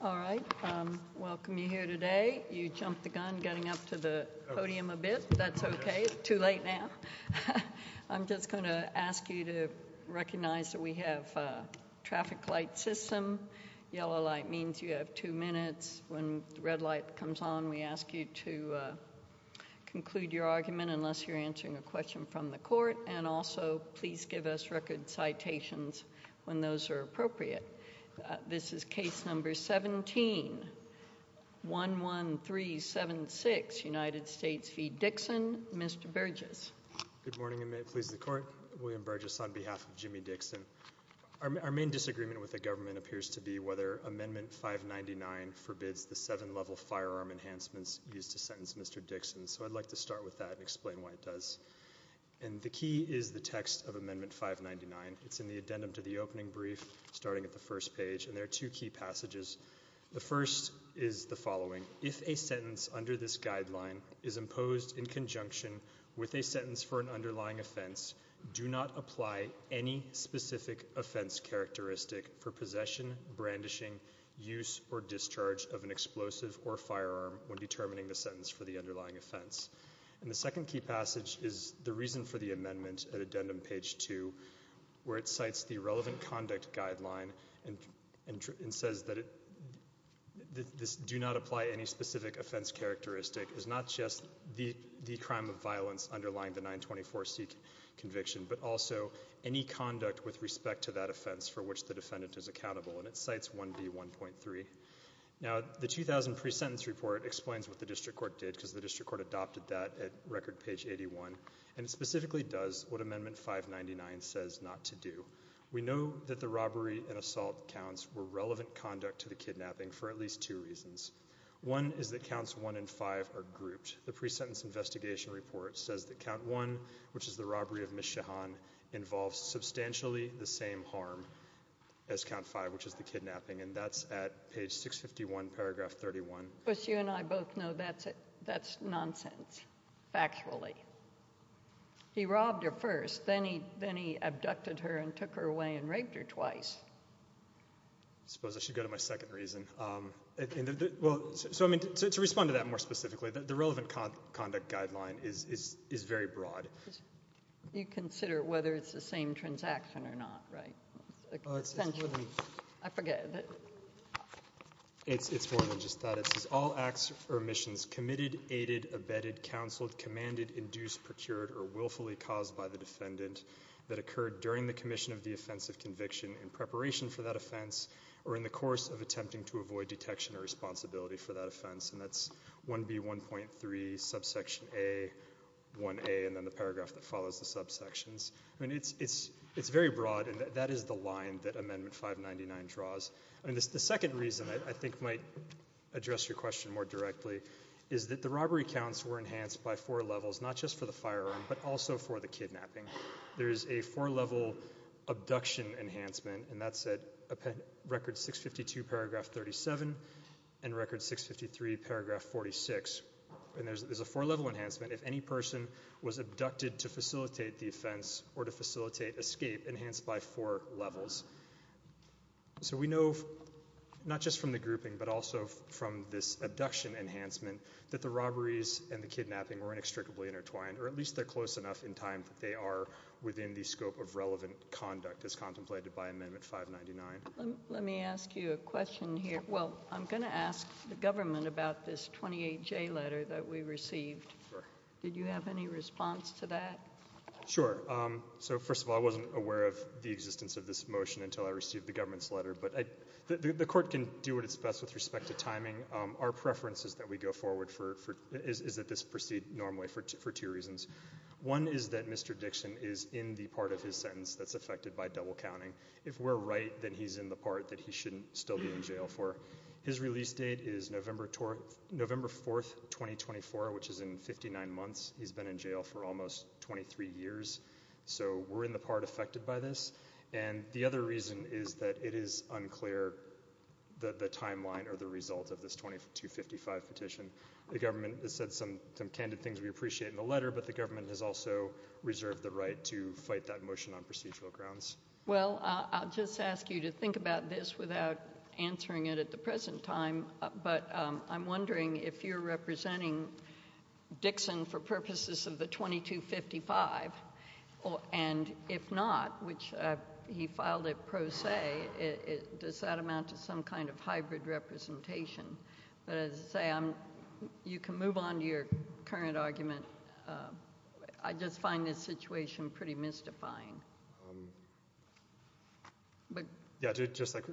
All right, I welcome you here today. You jumped the gun getting up to the podium a bit. That's okay. It's too late now. I'm just going to ask you to recognize that we have a traffic light system. Yellow light means you have two minutes. When the red light comes on, we ask you to conclude your argument unless you're answering a question from the court. And also, please give us record citations when those are appropriate. This is case number 1711376, United States v. Dixon. Mr. Burgess. Good morning, please, the court. William Burgess on behalf of Jimmy Dixon. Our main disagreement with the government appears to be whether Amendment 599 forbids the seven level firearm enhancements used to sentence Mr. Dixon. So the key is the text of Amendment 599. It's in the addendum to the opening brief starting at the first page, and there are two key passages. The first is the following. If a sentence under this guideline is imposed in conjunction with a sentence for an underlying offense, do not apply any specific offense characteristic for possession, brandishing, use, or discharge of an explosive or firearm when determining the sentence for the underlying offense. And the second key passage is the reason for the amendment at addendum page 2 where it cites the relevant conduct guideline and says that it do not apply any specific offense characteristic. It's not just the crime of violence underlying the 924C conviction, but also any conduct with respect to that offense for which the defendant is accountable. And it cites 1B1.3. Now, the 2000 pre-sentence report explains what the district court did at record page 81, and it specifically does what Amendment 599 says not to do. We know that the robbery and assault counts were relevant conduct to the kidnapping for at least two reasons. One is that counts 1 and 5 are grouped. The pre-sentence investigation report says that count 1, which is the robbery of Ms. Shahan, involves substantially the same harm as count 5, which is the kidnapping, and that's at page 651, paragraph 31. But you and I both know that's nonsense, factually. He robbed her first, then he abducted her and took her away and raped her twice. I suppose I should go to my second reason. So, I mean, to respond to that more specifically, the relevant conduct guideline is very broad. You consider whether it's the same transaction or not, right? It's more than just that. It says all acts or omissions committed, aided, abetted, counseled, commanded, induced, procured or willfully caused by the defendant that occurred during the commission of the offense of conviction in preparation for that offense or in the course of attempting to avoid detection or responsibility for that offense. And that's 1B1.3, subsection A, 1A, and then the paragraph that follows the subsections. I mean, it's very broad, and that is the line that Amendment 599 draws. I mean, the second reason I think might address your question more directly is that the robbery counts were enhanced by four levels, not just for the firearm, but also for the kidnapping. There is a four-level abduction enhancement, and that's at record 652, paragraph 37, and record 653, paragraph 46, and there's a four-level enhancement. If any person was abducted to facilitate the offense or to facilitate escape, enhanced by four levels. So we know, not just from the grouping, but also from this abduction enhancement, that the robberies and the kidnapping were inextricably intertwined, or at least they're close enough in time that they are within the scope of relevant conduct as contemplated by Amendment 599. Let me ask you a question here. Well, I'm going to ask the government about this 28J letter that we received. Did you have any response to that? Sure. So, first of all, I wasn't aware of the existence of this motion until I received the government's letter, but the court can do what it's best with respect to timing. Our preference is that we go forward for, is that this proceed normally for two reasons. One is that Mr. Dixon is in the part of his sentence that's affected by double counting. If we're right, then he's in the part that he shouldn't still be in jail for. His release date is November 4th, 2024, which is in 59 months. He's been in jail for almost 23 years. So we're in the part affected by this. And the other reason is that it is unclear the timeline or the result of this 2255 petition. The government has said some candid things we appreciate in the letter, but the government has also reserved the right to fight that motion on procedural grounds. Well, I'll just ask you to think about this without answering it at the present time, but I'm wondering if you're representing Dixon for purposes of the 2255, and if not, which he filed it pro se, does that amount to some kind of hybrid representation? But as I say, you can move on to your current argument. I just find this situation pretty mystifying. Yeah, just like,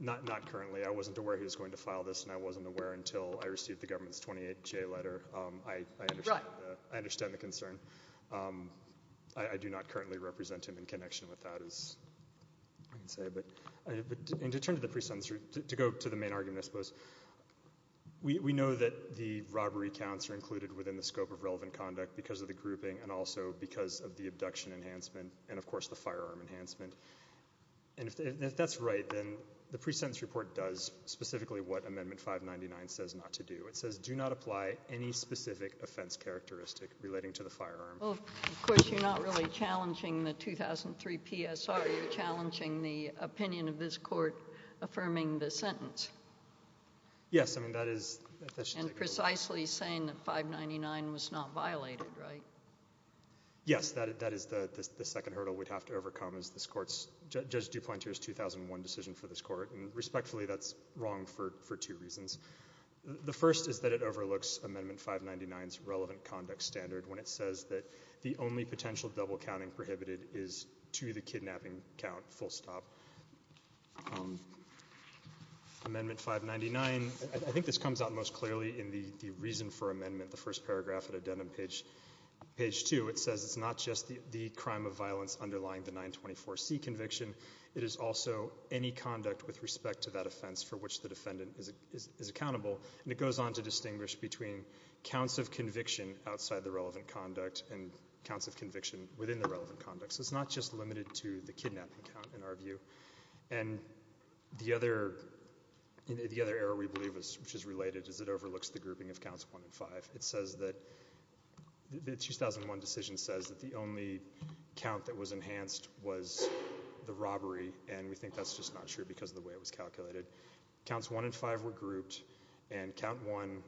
not currently, I wasn't aware he was going to file this, and I wasn't aware until I received the government's 28-J letter, I understand the concern. I do not currently represent him in connection with that, as I can say, but to go to the main argument, I suppose, we know that the robbery counts are included within the scope of relevant conduct because of the grouping and also because of the abduction enhancement and, of course, the firearm enhancement, and if that's right, then the pre-sentence report does specifically what Amendment 599 says not to do. It says, do not apply any specific offense characteristic relating to the firearm. Well, of course, you're not really challenging the 2003 PSR, you're challenging the opinion of this Court affirming the sentence. And precisely saying that 599 was not violated, right? Yes, that is the second hurdle we'd have to overcome as this Court's, Judge DuPont's 2001 decision for this Court, and respectfully, that's wrong for two reasons. The first is that it overlooks Amendment 599's relevant conduct standard when it says that the only potential double counting prohibited is to the kidnapping count, full stop. Amendment 599, I think this comes out most clearly in the reason for amendment, the first paragraph of the Addendum page 2, it says it's not just the crime of violence underlying the 924C conviction, it is also any conduct with respect to that offense for which the defendant is accountable, and it goes on to distinguish between counts of conviction outside the relevant conduct and counts of conviction within the relevant conduct, so it's not just the kidnapping count. And the other error we believe is, which is related, is it overlooks the grouping of counts 1 and 5. It says that, the 2001 decision says that the only count that was enhanced was the robbery, and we think that's just not true because of the way it was calculated. Counts 1 and 5 were grouped, and count 1,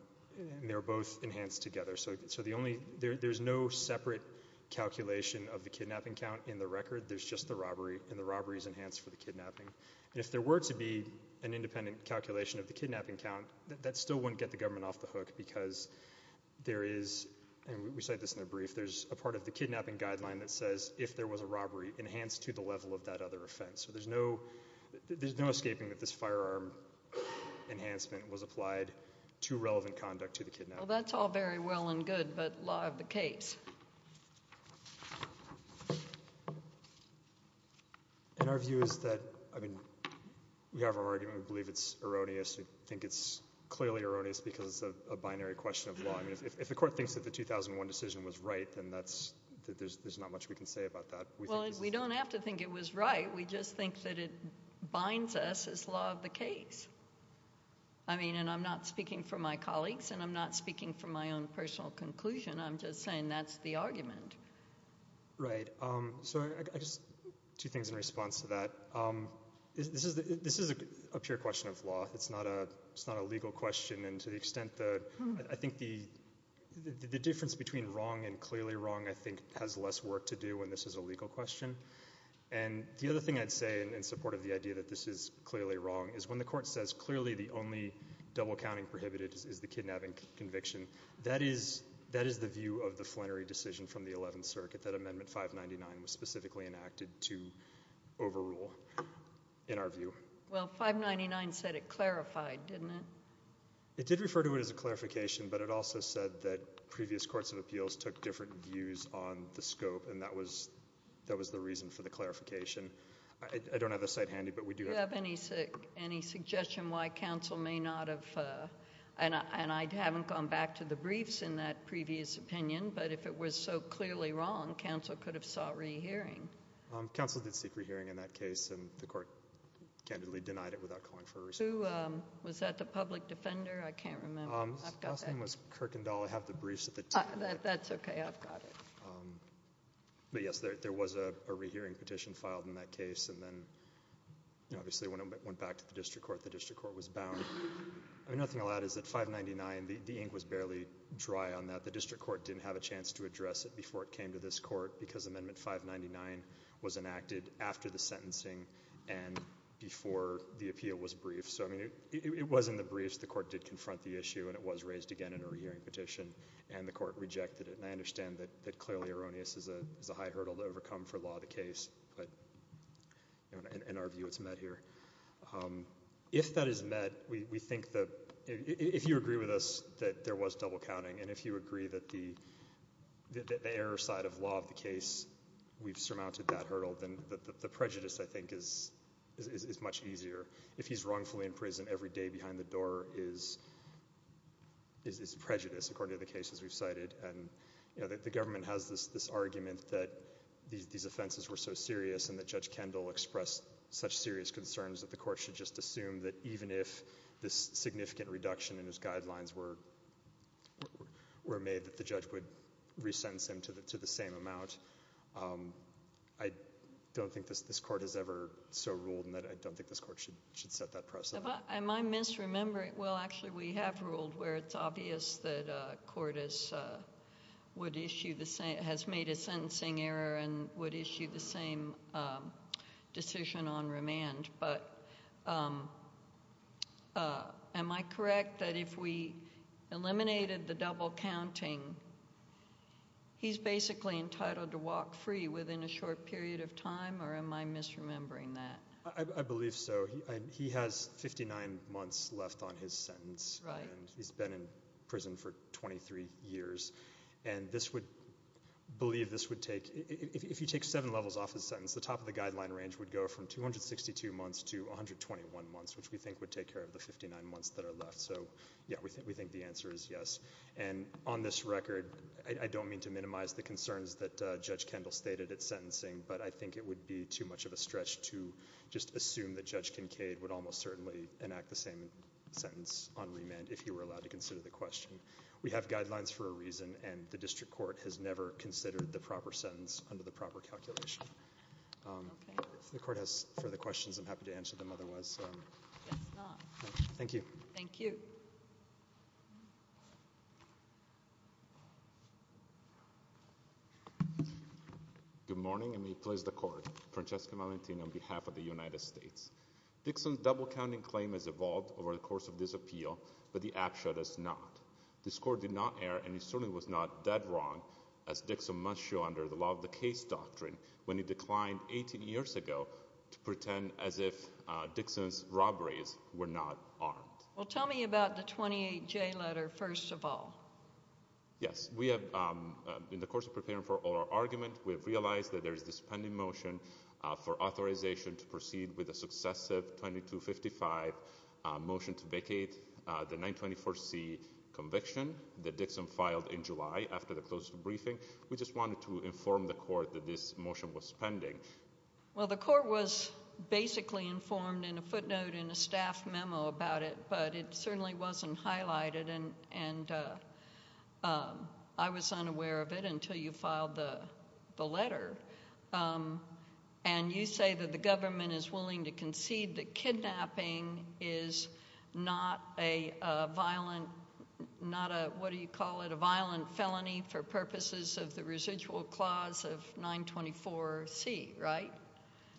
and they were both enhanced together, so the only, there's no separate calculation of the kidnapping count in the record, there's just the robbery, and the robbery is enhanced for the kidnapping. If there were to be an independent calculation of the kidnapping count, that still wouldn't get the government off the hook because there is, and we cite this in the brief, there's a part of the kidnapping guideline that says if there was a robbery, enhanced to the level of that other offense. So there's no, there's no escaping that this firearm enhancement was applied to relevant conduct to the kidnapping. Well, that's all very well and good, but law of the case. And our view is that, I mean, we have our argument, we believe it's erroneous, we think it's clearly erroneous because it's a binary question of law. I mean, if the court thinks that the 2001 decision was right, then that's, there's not much we can say about that. Well, we don't have to think it was right, we just think that it binds us as law of the case. I mean, and I'm not speaking for my colleagues, and I'm not speaking for my own personal conclusion, I'm just saying that's the argument. Right. So I just, two things in response to that. This is a pure question of law, it's not a legal question, and to the extent that, I think the difference between wrong and clearly wrong I think has less work to do when this is a legal question. And the other thing I'd say in support of the idea that this is clearly wrong is when the court says clearly the only double-counting prohibited is the kidnapping conviction, that is, that is the view of the Flannery decision from the Eleventh Circuit, that Amendment 599 was specifically enacted to overrule, in our view. Well, 599 said it clarified, didn't it? It did refer to it as a clarification, but it also said that previous courts of appeals took different views on the scope, and that was, that was the reason for the clarification. I don't have the site handy, but we do have— Any suggestion why counsel may not have, and I haven't gone back to the briefs in that previous opinion, but if it was so clearly wrong, counsel could have sought re-hearing. Counsel did seek re-hearing in that case, and the court candidly denied it without calling for a re-hearing. Who was that, the public defender? I can't remember. I've got that. His last name was Kirkendall. I have the briefs at the table. That's okay. I've got it. But yes, there was a re-hearing petition filed in that case, and then, you know, obviously when it went back to the district court, the district court was bound. I mean, nothing allowed is that 599, the ink was barely dry on that. The district court didn't have a chance to address it before it came to this court because Amendment 599 was enacted after the sentencing and before the appeal was briefed. So, I mean, it was in the briefs. The court did confront the issue, and it was raised again in a re-hearing petition, and the court rejected it, and I understand that clearly erroneous is a high hurdle to overcome for law of the case, but, you know, in our view, it's met here. If that is met, we think that if you agree with us that there was double counting, and if you agree that the error side of law of the case, we've surmounted that hurdle, then the prejudice, I think, is much easier. If he's wrongfully in prison every day behind the door is prejudice, according to the cases we've cited, and, you know, the government has this argument that these offenses were so serious and that Judge Kendall expressed such serious concerns that the court should just assume that even if this significant reduction in his guidelines were made, that the judge would re-sentence him to the same amount. I don't think this court has ever so ruled, and I don't think this court should set that precedent. Am I misremembering? Well, actually, we have ruled where it's obvious that a court has made a sentencing error and would issue the same decision on remand, but am I correct that if we eliminated the double counting, he's basically entitled to walk free within a short period of time, or am I misremembering that? I believe so. He has 59 months left on his sentence, and he's been in prison for 23 years, and this would believe this would take, if you take seven levels off his sentence, the top of the guideline range would go from 262 months to 121 months, which we think would take care of the 59 months that are left, so, yeah, we think the answer is yes, and on this record, I don't mean to minimize the concerns that Judge Kendall stated at sentencing, but I think the court would almost certainly enact the same sentence on remand if he were allowed to consider the question. We have guidelines for a reason, and the district court has never considered the proper sentence under the proper calculation. Okay. If the court has further questions, I'm happy to answer them, otherwise, thank you. Thank you. Good morning, and may it please the court, Francesco Valentino on behalf of the United States. Dixon's double-counting claim has evolved over the course of this appeal, but the APSHA does not. This court did not err, and it certainly was not that wrong, as Dixon must show under the law of the case doctrine, when he declined 18 years ago to pretend as if Dixon's robberies were not armed. Well, tell me about the 28J letter, first of all. Yes. We have, in the course of preparing for our argument, we have realized that there is this successive 2255 motion to vacate the 924C conviction that Dixon filed in July after the close of the briefing. We just wanted to inform the court that this motion was pending. Well, the court was basically informed in a footnote in a staff memo about it, but it certainly wasn't highlighted, and I was unaware of it until you filed the letter. And you say that the government is willing to concede that kidnapping is not a violent, not a, what do you call it, a violent felony for purposes of the residual clause of 924C, right?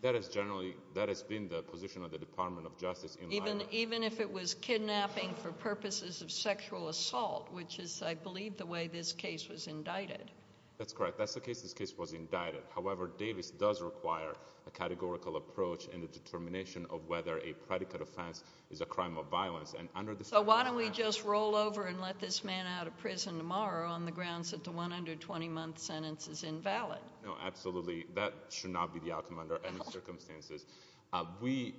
That is generally, that has been the position of the Department of Justice in Limerick. Even if it was kidnapping for purposes of sexual assault, which is, I believe, the way this case was indicted. That's correct. That's the case. This case was indicted. However, Davis does require a categorical approach in the determination of whether a predicate offense is a crime of violence. And under the— So why don't we just roll over and let this man out of prison tomorrow on the grounds that the 120-month sentence is invalid? No, absolutely. That should not be the outcome under any circumstances. We,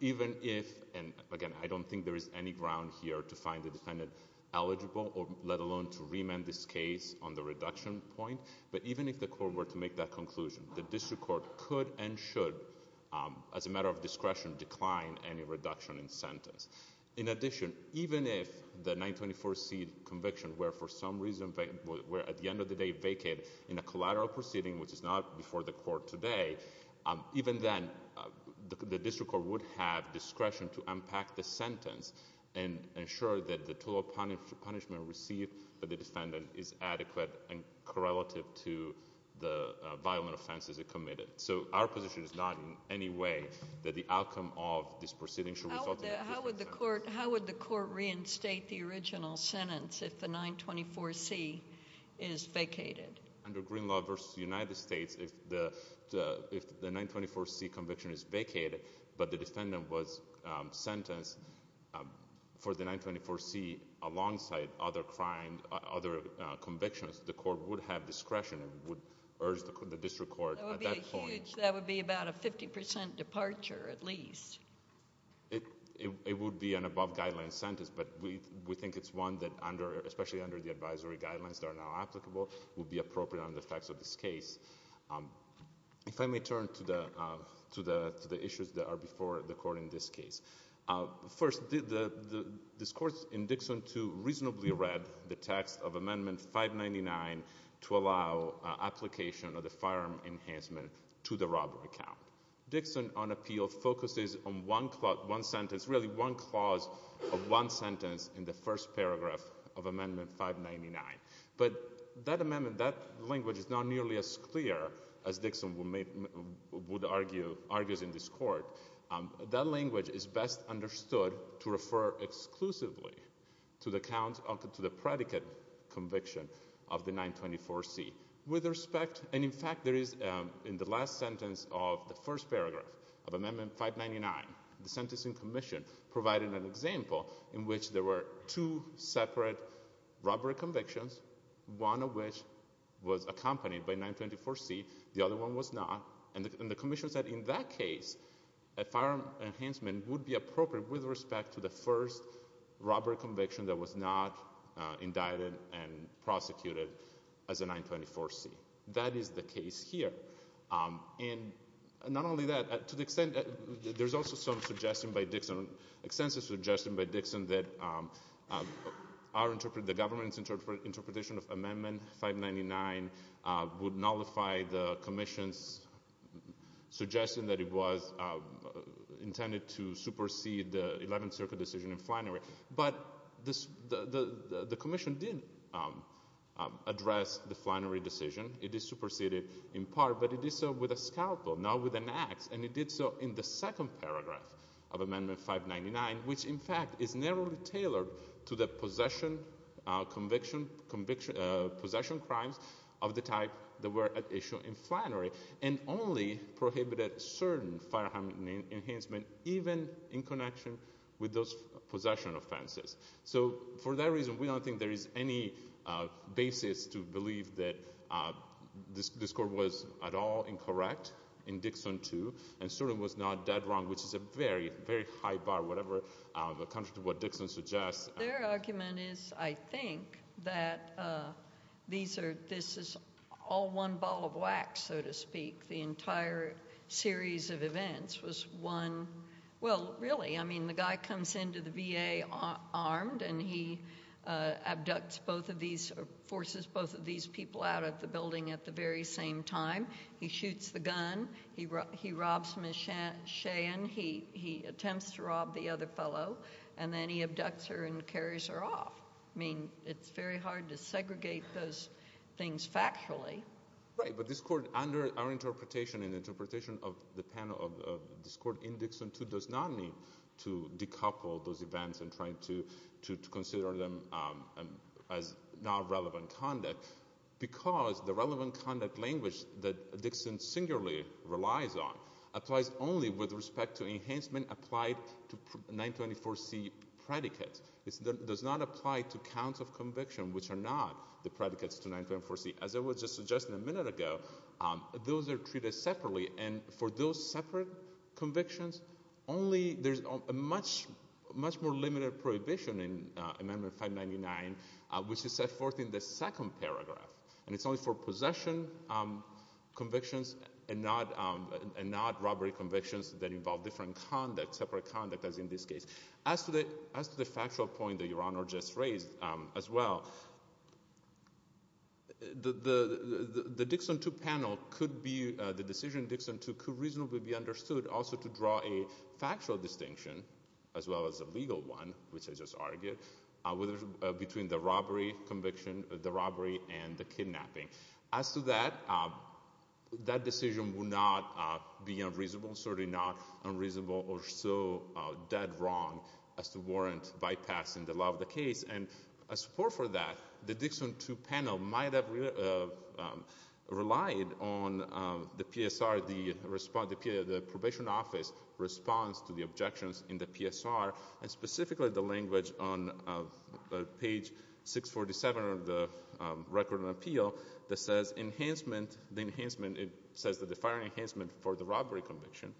even if, and again, I don't think there is any ground here to find the defendant eligible, let alone to remand this case on the reduction point, but even if the court were to make that conclusion, the district court could and should, as a matter of discretion, decline any reduction in sentence. In addition, even if the 924C conviction were, for some reason, at the end of the day, vacated in a collateral proceeding, which is not before the court today, even then, the district court would have discretion to unpack the sentence and ensure that the total punishment received by the defendant is adequate and correlative to the violent offenses it committed. So our position is not in any way that the outcome of this proceeding should result in a reduced sentence. How would the court reinstate the original sentence if the 924C is vacated? Under Green Law versus the United States, if the 924C conviction is vacated, but the defendant was sentenced for the 924C alongside other convictions, the court would have discretion and would urge the district court at that point. That would be about a 50% departure, at least. It would be an above-guideline sentence, but we think it's one that, especially under the facts of this case. If I may turn to the issues that are before the court in this case, first, the discourse in Dixon 2 reasonably read the text of Amendment 599 to allow application of the firearm enhancement to the robbery count. Dixon on appeal focuses on one clause, one sentence, really one clause of one sentence in the first paragraph of Amendment 599. But that amendment, that language is not nearly as clear as Dixon would argue in this court. That language is best understood to refer exclusively to the predicate conviction of the 924C. With respect, and in fact, there is in the last sentence of the first paragraph of Amendment 599, the Sentencing Commission provided an example in which there were two separate robbery convictions, one of which was accompanied by 924C, the other one was not, and the Commission said in that case, a firearm enhancement would be appropriate with respect to the first robbery conviction that was not indicted and prosecuted as a 924C. That is the case here, and not only that, to the extent that there's also some suggestion by Dixon, extensive suggestion by Dixon that our interpretation, the government's interpretation of Amendment 599 would nullify the Commission's suggestion that it was intended to supersede the Eleventh Circuit decision in Flannery. But the Commission did address the Flannery decision. It did supersede it in part, but it did so with a scalpel, not with an axe, and it did so in the second paragraph of Amendment 599, which in fact is narrowly tailored to the possession, conviction, possession crimes of the type that were at issue in Flannery, and only prohibited certain firearm enhancement, even in connection with those possession offenses. So for that reason, we don't think there is any basis to believe that this Court was at all incorrect in Dixon II, and certainly was not that wrong, which is a very, very high bar, whatever, contrary to what Dixon suggests. Their argument is, I think, that these are, this is all one ball of wax, so to speak. The entire series of events was one, well, really, I mean, the guy comes into the VA armed and he abducts both of these, or forces both of these people out of the building at the very same time. He shoots the gun, he robs Ms. Cheyenne, he attempts to rob the other fellow, and then he abducts her and carries her off. I mean, it's very hard to segregate those things factually. Right, but this Court, under our interpretation and interpretation of the panel of this Court in Dixon II, does not need to decouple those events and try to consider them as not relevant conduct, because the relevant conduct language that Dixon singularly relies on applies only with respect to enhancement applied to 924C predicates. It does not apply to counts of conviction, which are not the predicates to 924C. As I was just suggesting a minute ago, those are treated separately, and for those separate convictions, only, there's a much more limited prohibition in Amendment 599, which is set in the second paragraph, and it's only for possession convictions and not robbery convictions that involve different conduct, separate conduct, as in this case. As to the factual point that Your Honor just raised, as well, the Dixon II panel could be, the decision in Dixon II could reasonably be understood also to draw a factual distinction, as well as a legal one, which I just argued, between the robbery conviction, the robbery and the kidnapping. As to that, that decision would not be unreasonable, certainly not unreasonable or so dead wrong as to warrant bypassing the law of the case, and a support for that, the Dixon II panel might have relied on the PSR, the response, the Probation Office response to the objections in the PSR, and specifically the language on page 647 of the Record of Appeal that says enhancement, the enhancement, it says that the firing enhancement for the robbery conviction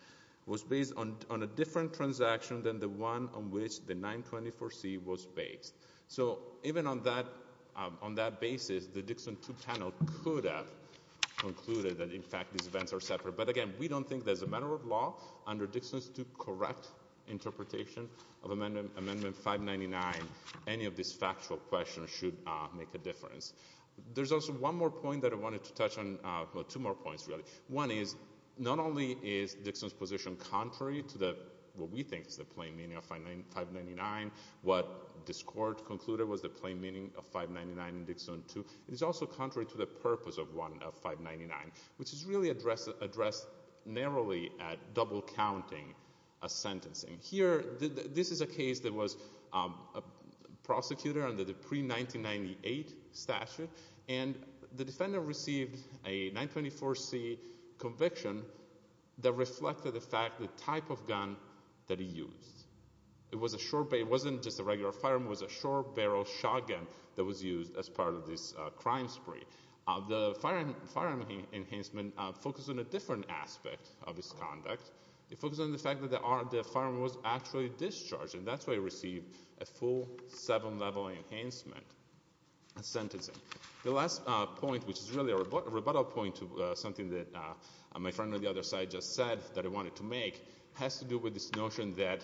was based on a different transaction than the one on which the 924C was based. So even on that basis, the Dixon II panel could have concluded that, in fact, these events are separate. But again, we don't think that as a matter of law, under Dixon II's correct interpretation of Amendment 599, any of these factual questions should make a difference. There's also one more point that I wanted to touch on, well, two more points, really. One is, not only is Dixon's position contrary to what we think is the plain meaning of 599, what this Court concluded was the plain meaning of 599 in Dixon II, it is also contrary to the purpose of 599, which is really addressed narrowly at double-counting a sentencing. Here, this is a case that was prosecuted under the pre-1998 statute, and the defendant received a 924C conviction that reflected the fact, the type of gun that he used. It wasn't just a regular firearm, it was a short-barrel shotgun that was used as part of this crime spree. The firearm enhancement focused on a different aspect of his conduct. It focused on the fact that the firearm was actually discharged, and that's why he received a full seven-level enhancement sentencing. The last point, which is really a rebuttal point to something that my friend on the other side just said that I wanted to make, has to do with this notion that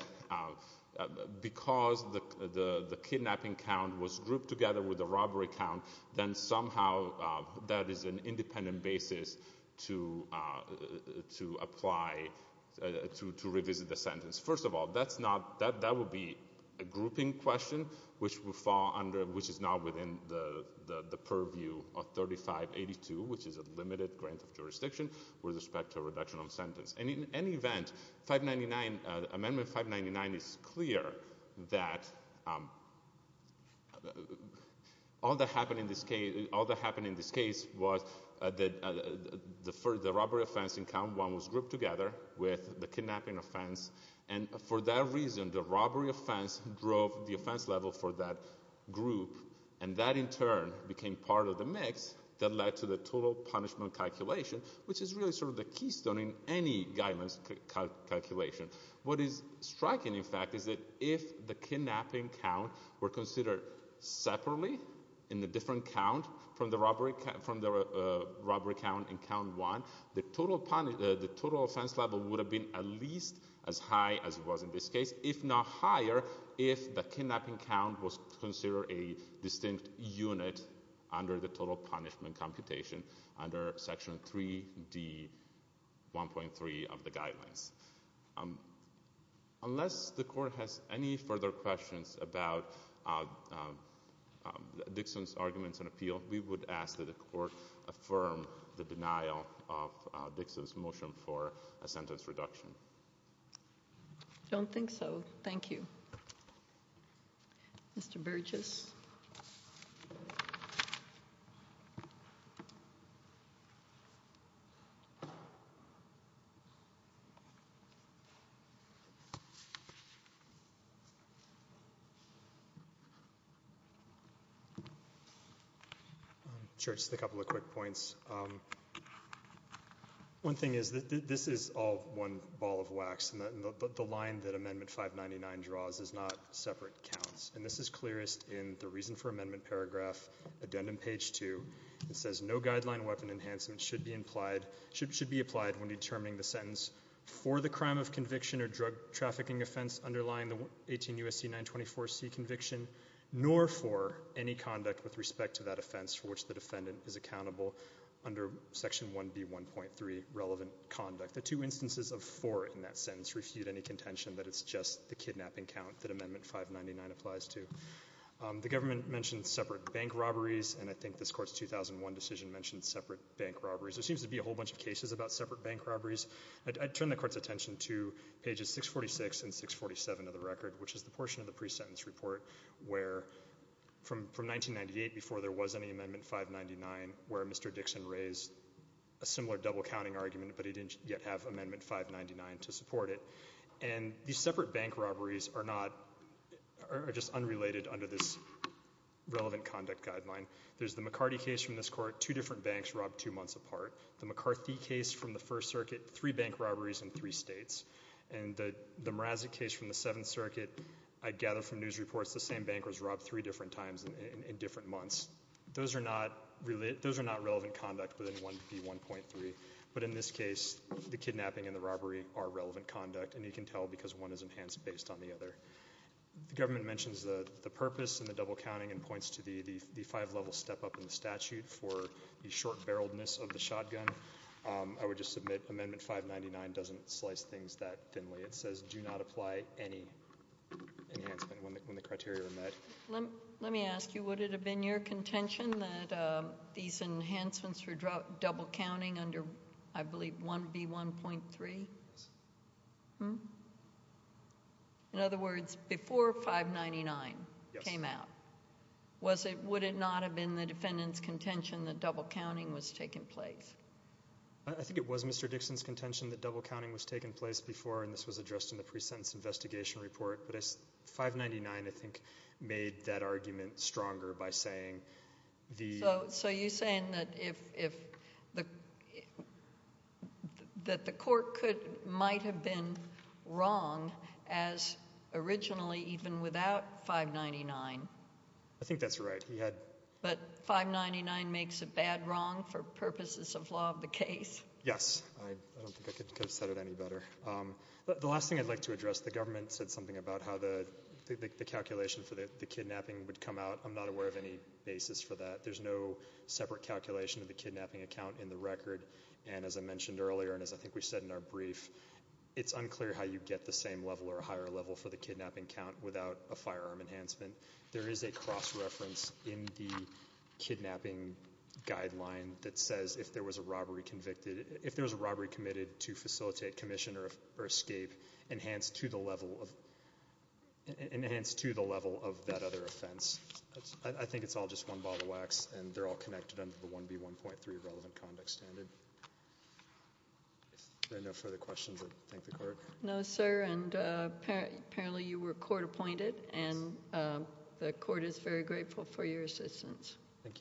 because the kidnapping count was grouped together with the robbery count, then somehow that is an independent basis to apply, to revisit the sentence. First of all, that's not, that would be a grouping question, which would fall under, which is not within the purview of 3582, which is a limited grant of jurisdiction with respect to a reduction of sentence. And in any event, 599, Amendment 599 is clear that all that happened in this case, all that happened in this case was that the robbery offense in count one was grouped together with the kidnapping offense, and for that reason, the robbery offense drove the offense level for that group, and that in turn became part of the mix that led to the total punishment calculation, which is really sort of the keystone in any guidance calculation. What is striking, in fact, is that if the kidnapping count were considered separately in the different count from the robbery count in count one, the total offense level would have been at least as high as it was in this case, if not higher, if the kidnapping count was considered a distinct unit under the total punishment computation under Section 3D1.3 of the Guidelines. Unless the Court has any further questions about Dixon's arguments and appeal, we would ask that the Court affirm the denial of Dixon's motion for a sentence reduction. I don't think so. Thank you. Mr. Burgess? I'm sure it's just a couple of quick points. One thing is that this is all one ball of wax, and the line that Amendment 599 draws is not separate counts, and this is clearest in the reason for amendment paragraph, addendum page two. It says, no guideline weapon enhancement should be applied when determining the sentence for the crime of conviction or drug trafficking offense underlying the 18 U.S.C. 924C conviction, nor for any conduct with respect to that offense for which the defendant is accountable under Section 1B1.3 relevant conduct. The two instances of for in that sentence refute any contention that it's just the kidnapping count that Amendment 599 applies to. The government mentioned separate bank robberies, and I think this Court's 2001 decision mentioned separate bank robberies. There seems to be a whole bunch of cases about separate bank robberies. I'd turn the Court's attention to pages 646 and 647 of the record, which is the portion of the pre-sentence report, where from 1998, before there was any Amendment 599, where Mr. Dixon raised a similar double-counting argument, but he didn't yet have Amendment 599 to support it. And these separate bank robberies are not — are just unrelated under this relevant conduct guideline. There's the McCarty case from this Court, two different banks robbed two months apart. The McCarthy case from the First Circuit, three bank robberies in three states. And the Mrazik case from the Seventh Circuit, I gather from news reports, the same bankers robbed three different times in different months. Those are not — those are not relevant conduct within 1B1.3, but in this case, the kidnapping and the robbery are relevant conduct, and you can tell because one is enhanced based on the other. The government mentions the purpose and the double-counting and points to the five-level step-up in the statute for the short-barreledness of the shotgun. I would just submit Amendment 599 doesn't slice things that thinly. It says do not apply any enhancement when the criteria are met. Let me ask you, would it have been your contention that these enhancements for double-counting under, I believe, 1B1.3? Yes. Hmm? In other words, before 599 came out, was it — would it not have been the defendant's contention that double-counting was taking place? I think it was Mr. Dixon's contention that double-counting was taking place before, and this was addressed in the pre-sentence investigation report, but 599, I think, made that argument stronger by saying the — So you're saying that if — that the court could — might have been wrong as originally even without 599? I think that's right. He had — But 599 makes a bad wrong for purposes of law of the case? Yes. I don't think I could have said it any better. The last thing I'd like to address, the government said something about how the calculation for the kidnapping would come out. I'm not aware of any basis for that. There's no separate calculation of the kidnapping account in the record, and as I mentioned earlier and as I think we said in our brief, it's unclear how you get the same level or higher level for the kidnapping count without a firearm enhancement. There is a cross-reference in the kidnapping guideline that says if there was a robbery convicted — if there was a robbery committed to facilitate, commission, or escape enhanced to the level of — enhanced to the level of that other offense. I think it's all just one ball of wax, and they're all connected under the 1B1.3 relevant conduct standard. If there are no further questions, I'll thank the court. No, sir, and apparently you were court-appointed, and the court is very grateful for your assistance. Thank you.